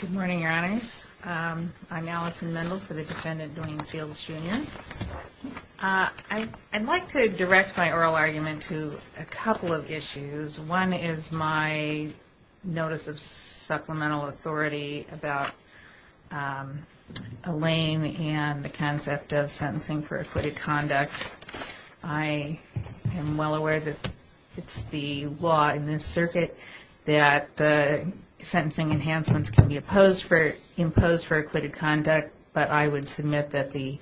Good morning, Your Honors. I'm Allison Mendel for the defendant Duane Fields, Jr. I'd like to direct my oral argument to a couple of issues. One is my notice of supplemental authority about Elaine and the concept of sentencing for acquitted conduct. I am well aware that it's the law in this circuit that sentencing enhancements can be imposed for acquitted conduct, but I would submit that the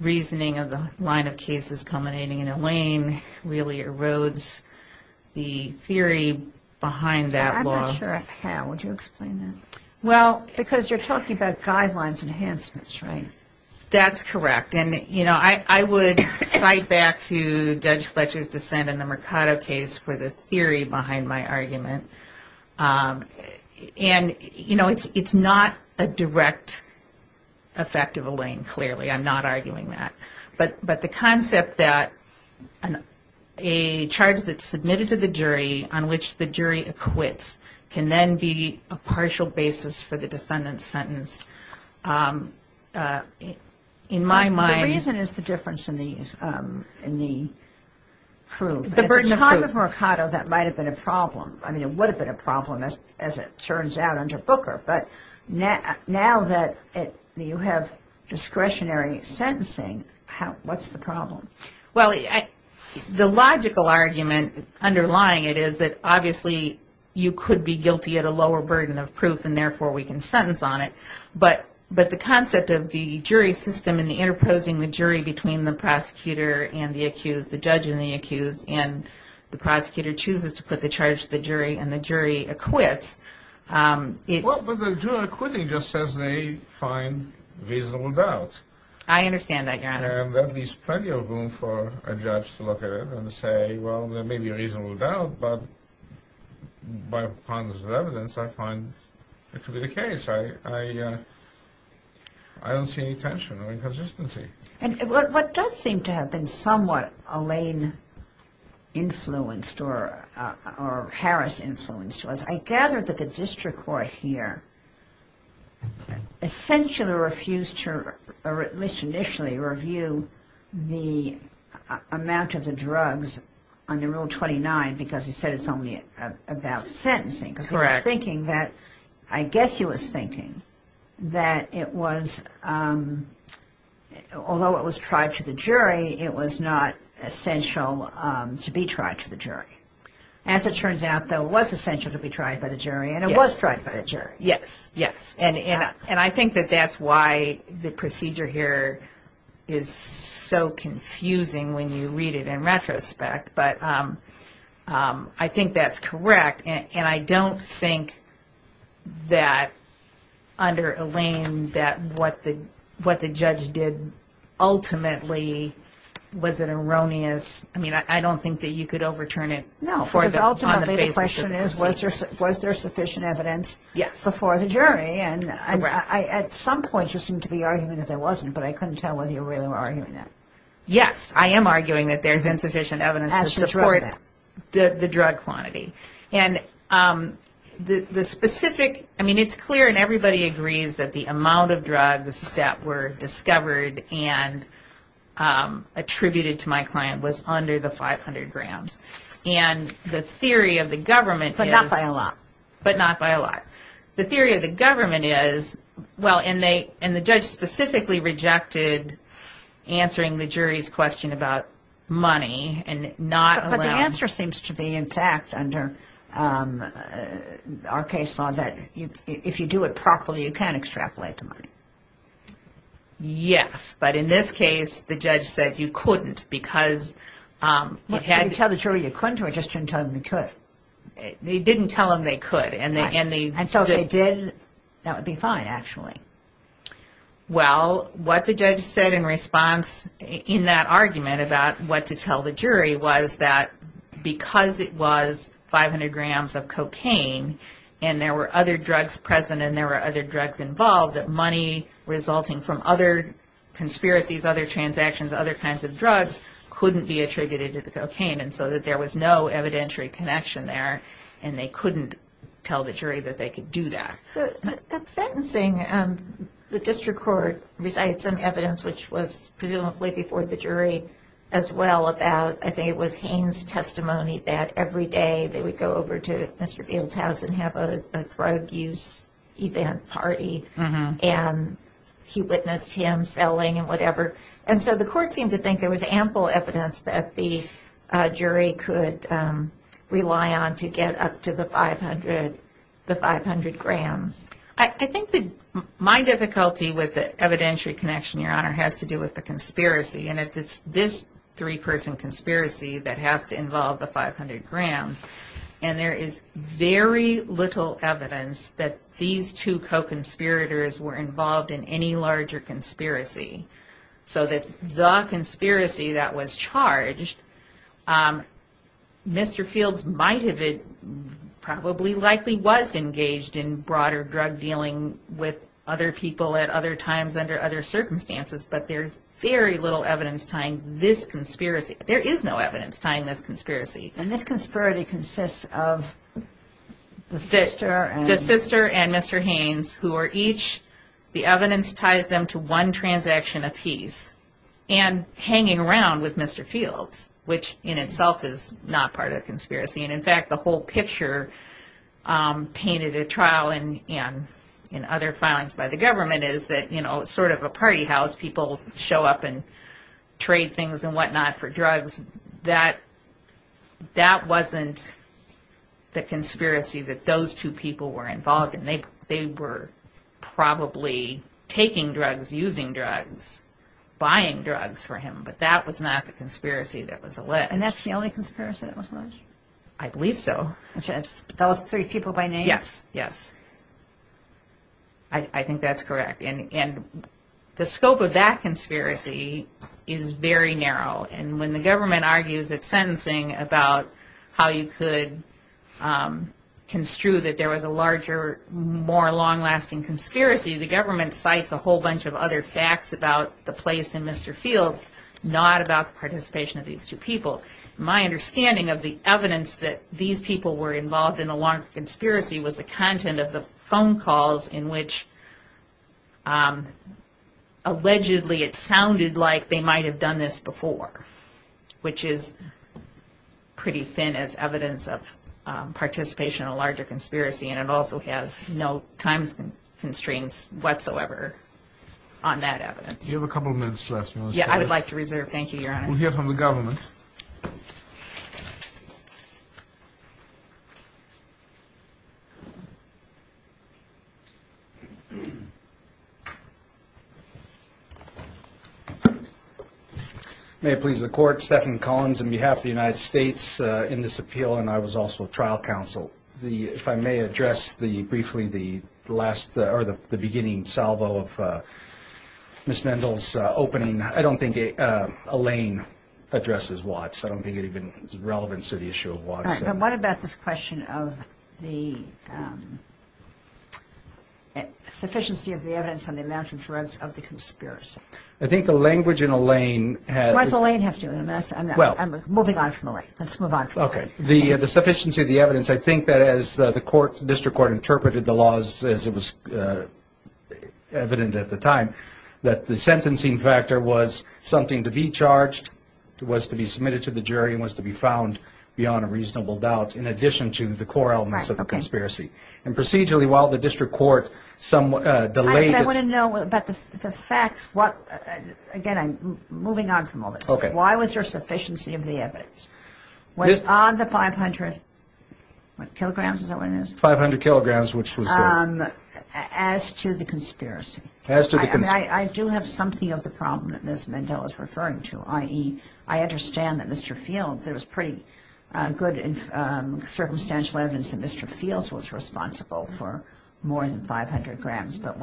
reasoning of the line of cases culminating in Elaine really erodes the theory behind that law. I'm not sure how. Would you explain that? Well... Because you're talking about guidelines enhancements, right? That's correct. And, you know, I would cite back to Judge Fletcher's dissent in the Mercado case for the theory behind my argument. And, you know, it's not a direct effect of Elaine, clearly. I'm not arguing that. But the concept that a charge that's submitted to the jury on which the jury acquits can then be a partial basis for the defendant's sentence, in my mind... The reason is the difference in the proof. The burden of proof. At the time of Mercado, that might have been a problem. I mean, it would have been a problem as it turns out under Booker. But now that you have discretionary sentencing, what's the problem? Well, the logical argument underlying it is that obviously you could be guilty at a lower burden of proof and therefore we can sentence on it. But the concept of the jury system and the interposing the jury between the prosecutor and the accused, the judge and the accused, and the prosecutor chooses to put the charge to the jury and the jury acquits... Well, but the jury acquitting just says they find reasonable doubt. I understand that, Your Honor. And that leaves plenty of room for a judge to look at it and say, well, there may be a reasonable doubt, but by ponderance of evidence, I find it to be the case. I don't see any tension or inconsistency. And what does seem to have been somewhat Elaine-influenced or Harris-influenced was I gather that the district court here essentially refused to, or at least initially, review the amount of the drugs under Rule 29 because he said it's only about sentencing. Correct. I guess he was thinking that it was, although it was tried to the jury, it was not essential to be tried to the jury. As it turns out, though, it was essential to be tried by the jury and it was tried by the jury. Yes, yes. And I think that that's why the procedure here is so confusing when you read it in retrospect. But I think that's correct. And I don't think that under Elaine that what the judge did ultimately was an erroneous, I mean, I don't think that you could overturn it. No, because ultimately the question is was there sufficient evidence before the jury? Yes. And at some point you seemed to be arguing that there wasn't, but I couldn't tell whether you really were arguing that. Yes, I am arguing that there's insufficient evidence to support the drug quantity. And the specific, I mean, it's clear and everybody agrees that the amount of drugs that were discovered and attributed to my client was under the 500 grams. And the theory of the government is... But not by a lot. But not by a lot. The theory of the government is, well, and the judge specifically rejected answering the jury's question about money and not... But the answer seems to be, in fact, under our case law that if you do it properly you can extrapolate the money. Yes, but in this case the judge said you couldn't because... Did you tell the jury you couldn't or just didn't tell them you could? They didn't tell them they could. And so if they did, that would be fine, actually. Well, what the judge said in response in that argument about what to tell the jury was that because it was 500 grams of cocaine and there were other drugs present and there were other drugs involved, that money resulting from other conspiracies, other transactions, other kinds of drugs couldn't be attributed to the cocaine and so that there was no evidentiary connection there and they couldn't tell the jury that they could do that. So that sentencing, the district court recited some evidence, which was presumably before the jury as well, about I think it was Haines' testimony that every day they would go over to Mr. Fields' house and have a drug use event party and he witnessed him selling and whatever. And so the court seemed to think there was ample evidence that the jury could rely on to get up to the 500 grams. I think my difficulty with the evidentiary connection, Your Honor, has to do with the conspiracy and it's this three-person conspiracy that has to involve the 500 grams and there is very little evidence that these two co-conspirators were involved in any larger conspiracy. So that the conspiracy that was charged, Mr. Fields might have been, probably likely was engaged in broader drug dealing with other people at other times under other circumstances, but there's very little evidence tying this conspiracy, there is no evidence tying this conspiracy. And this conspiracy consists of the sister and... The sister and Mr. Haines, who are each, the evidence ties them to one transaction apiece and hanging around with Mr. Fields, which in itself is not part of the conspiracy and in fact the whole picture painted at trial and in other filings by the government is that, you know, it's sort of a party house, people show up and trade things and whatnot for drugs, that wasn't the conspiracy that those two people were involved in. They were probably taking drugs, using drugs, buying drugs for him, but that was not the conspiracy that was alleged. And that's the only conspiracy that was alleged? I believe so. Those three people by name? Yes, yes. I think that's correct. And the scope of that conspiracy is very narrow and when the government argues its sentencing about how you could construe that there was a larger, more long-lasting conspiracy, the government cites a whole bunch of other facts about the place in Mr. Fields, not about the participation of these two people. My understanding of the evidence that these people were involved in a long conspiracy was the content of the phone calls in which allegedly it sounded like they might have done this before, which is pretty thin as evidence of participation in a larger conspiracy and it also has no time constraints whatsoever on that evidence. Do you have a couple of minutes left? Yeah, I would like to reserve. Thank you, Your Honor. We'll hear from the government. May it please the Court, Stephen Collins on behalf of the United States in this appeal, and I was also trial counsel. If I may address briefly the beginning salvo of Ms. Mendel's opening. I don't think Elaine addresses Watts. I don't think it even is relevant to the issue of Watts. All right, but what about this question of the sufficiency of the evidence and the amount of evidence of the conspiracy? I think the language in Elaine has... What does Elaine have to do with it? I'm moving on from Elaine. Let's move on from Elaine. Okay. The sufficiency of the evidence, I think that as the District Court interpreted the laws as it was evident at the time, that the sentencing factor was something to be charged, was to be submitted to the jury, and was to be found beyond a reasonable doubt in addition to the core elements of the conspiracy. And procedurally, while the District Court delayed it... I want to know about the facts. Again, I'm moving on from all this. Why was there sufficiency of the evidence? On the 500 kilograms, is that what it is? 500 kilograms, which was... As to the conspiracy. As to the conspiracy. I do have something of the problem that Ms. Mendel is referring to, i.e., I understand that Mr. Field, there was pretty good circumstantial evidence that Mr. Fields was responsible for more than 500 grams, but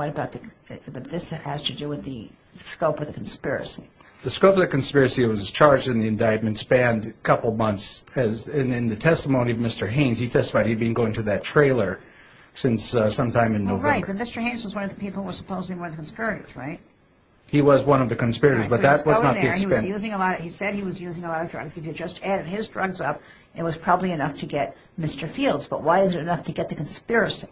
this has to do with the scope of the conspiracy. The scope of the conspiracy that was charged in the indictment spanned a couple of months. And in the testimony of Mr. Haynes, he testified he'd been going to that trailer since sometime in November. Right, but Mr. Haynes was one of the people who were supposedly one of the conspirators, right? He was one of the conspirators, but that was not the extent. He said he was using a lot of drugs. If you just added his drugs up, it was probably enough to get Mr. Fields. But why is it enough to get the conspiracy?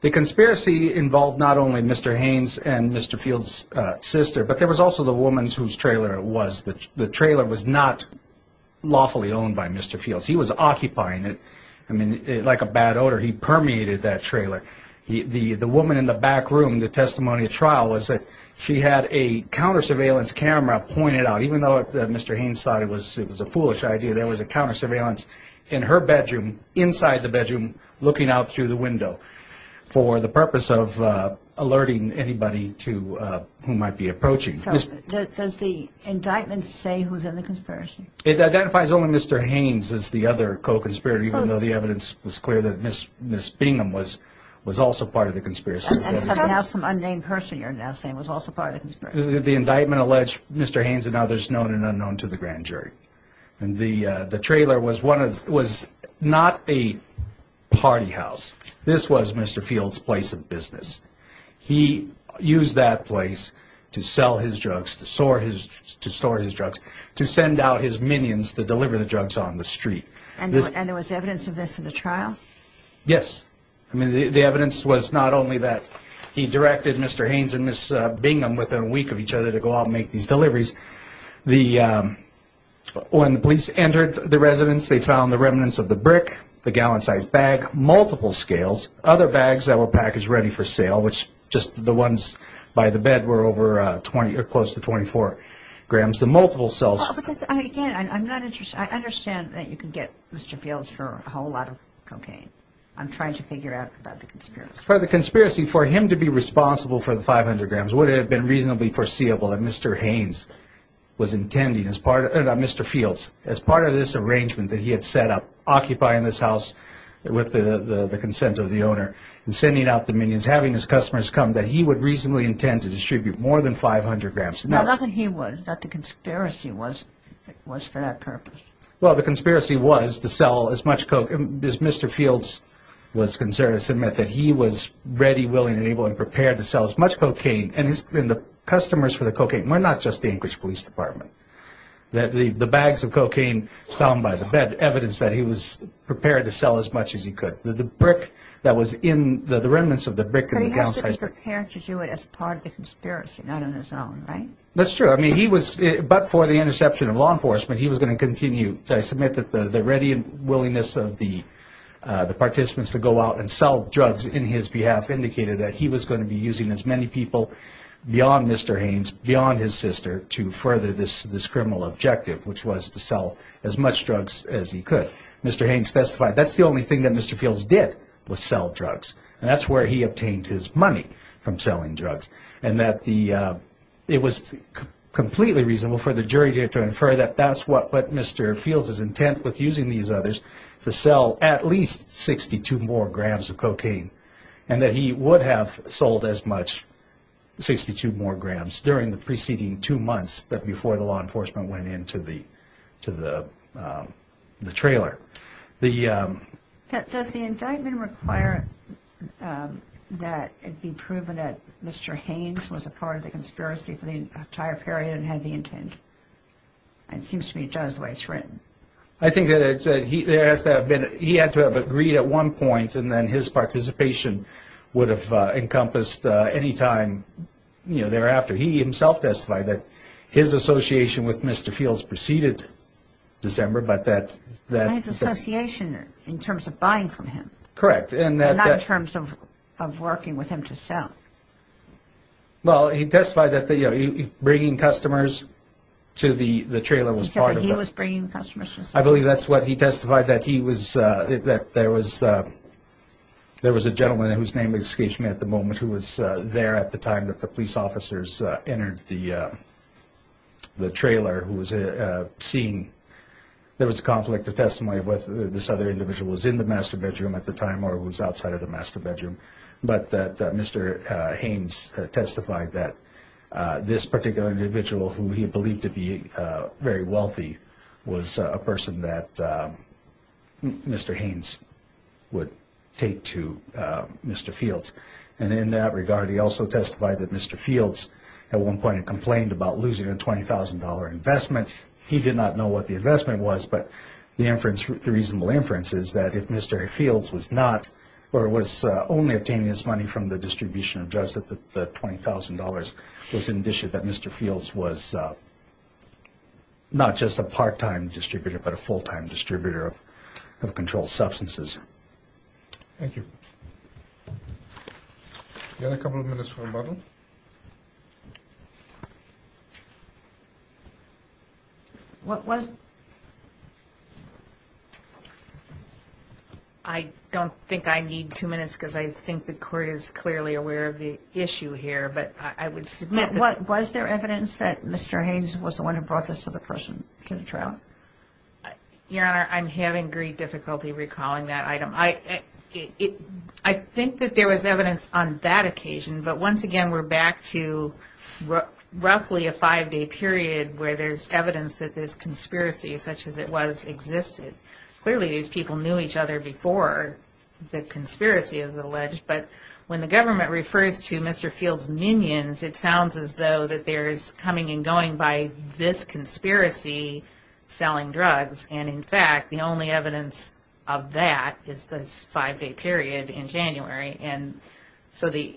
The conspiracy involved not only Mr. Haynes and Mr. Fields' sister, but there was also the woman whose trailer it was. The trailer was not lawfully owned by Mr. Fields. He was occupying it. I mean, like a bad odor, he permeated that trailer. The woman in the back room in the testimony at trial was that she had a counter-surveillance camera pointed out. Even though Mr. Haynes thought it was a foolish idea, there was a counter-surveillance in her bedroom, inside the bedroom, looking out through the window for the purpose of alerting anybody who might be approaching. Does the indictment say who was in the conspiracy? It identifies only Mr. Haynes as the other co-conspirator, even though the evidence was clear that Miss Bingham was also part of the conspiracy. And somehow some unnamed person you're now saying was also part of the conspiracy. The indictment alleged Mr. Haynes and others known and unknown to the grand jury. The trailer was not a party house. This was Mr. Fields' place of business. He used that place to sell his drugs, to store his drugs, to send out his minions to deliver the drugs on the street. And there was evidence of this in the trial? Yes. I mean, the evidence was not only that he directed Mr. Haynes and Miss Bingham within a week of each other to go out and make these deliveries. When the police entered the residence, they found the remnants of the brick, the gallon-sized bag, multiple scales, other bags that were packaged ready for sale, which just the ones by the bed were over 20 or close to 24 grams, the multiple cells. Again, I'm not interested. I understand that you can get Mr. Fields for a whole lot of cocaine. I'm trying to figure out about the conspiracy. For the conspiracy, for him to be responsible for the 500 grams would have been reasonably foreseeable that Mr. Fields, as part of this arrangement that he had set up, occupying this house with the consent of the owner, and sending out the minions, having his customers come, that he would reasonably intend to distribute more than 500 grams. Nothing he would, that the conspiracy was for that purpose. Well, the conspiracy was to sell as much cocaine. As Mr. Fields was concerned, it meant that he was ready, willing, and able and prepared to sell as much cocaine. And the customers for the cocaine were not just the Anchorage Police Department. The bags of cocaine found by the bed evidence that he was prepared to sell as much as he could. The brick that was in, the remnants of the brick in the downside. But he has to be prepared to do it as part of the conspiracy, not on his own, right? That's true. I mean, he was, but for the interception of law enforcement, he was going to continue. So I submit that the ready and willingness of the participants to go out and sell drugs in his behalf indicated that he was going to be using as many people beyond Mr. Haynes, beyond his sister, to further this criminal objective, which was to sell as much drugs as he could. Mr. Haynes testified, that's the only thing that Mr. Fields did, was sell drugs. And that's where he obtained his money from selling drugs. And that the, it was completely reasonable for the jury to infer that that's what Mr. Fields is intent with using these others, to sell at least 62 more grams of cocaine. And that he would have sold as much, 62 more grams, during the preceding two months that before the law enforcement went into the trailer. Does the indictment require that it be proven that Mr. Haynes was a part of the conspiracy for the entire period and had the intent? It seems to me it does, the way it's written. I think that it has to have been, he had to have agreed at one point and then his participation would have encompassed any time thereafter. He himself testified that his association with Mr. Fields preceded December, but that... His association in terms of buying from him. Correct. And not in terms of working with him to sell. Well, he testified that bringing customers to the trailer was part of that. He said that he was bringing customers to sell. I believe that's what he testified, that he was... That there was a gentleman, whose name escapes me at the moment, who was there at the time that the police officers entered the trailer, who was seeing... There was a conflict of testimony of whether this other individual was in the master bedroom at the time or was outside of the master bedroom. But Mr. Haynes testified that this particular individual, who he believed to be very wealthy, was a person that Mr. Haynes would take to Mr. Fields. And in that regard, he also testified that Mr. Fields, at one point, complained about losing a $20,000 investment. He did not know what the investment was, but the inference, the reasonable inference, is that if Mr. Fields was not or was only obtaining his money from the distribution of drugs, that the $20,000 was an indication that Mr. Fields was not just a part-time distributor, but a full-time distributor of controlled substances. Thank you. We have a couple of minutes for rebuttal. What was... I don't think I need two minutes because I think the Court is clearly aware of the issue here, but I would submit that... Was there evidence that Mr. Haynes was the one who brought this other person to the trial? Your Honor, I'm having great difficulty recalling that item. I think that there was evidence on that occasion, but once again we're back to roughly a five-day period where there's evidence that this conspiracy, such as it was, existed. Clearly these people knew each other before the conspiracy is alleged, but when the government refers to Mr. Fields' minions, it sounds as though that there's coming and going by this conspiracy selling drugs, and in fact the only evidence of that is this five-day period in January, and so the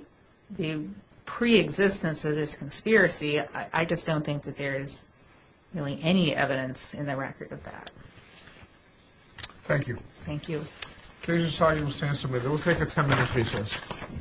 preexistence of this conspiracy, I just don't think that there is really any evidence in the record of that. Thank you. Thank you. The case is signed and will stand submitted. We'll take a ten-minute recess.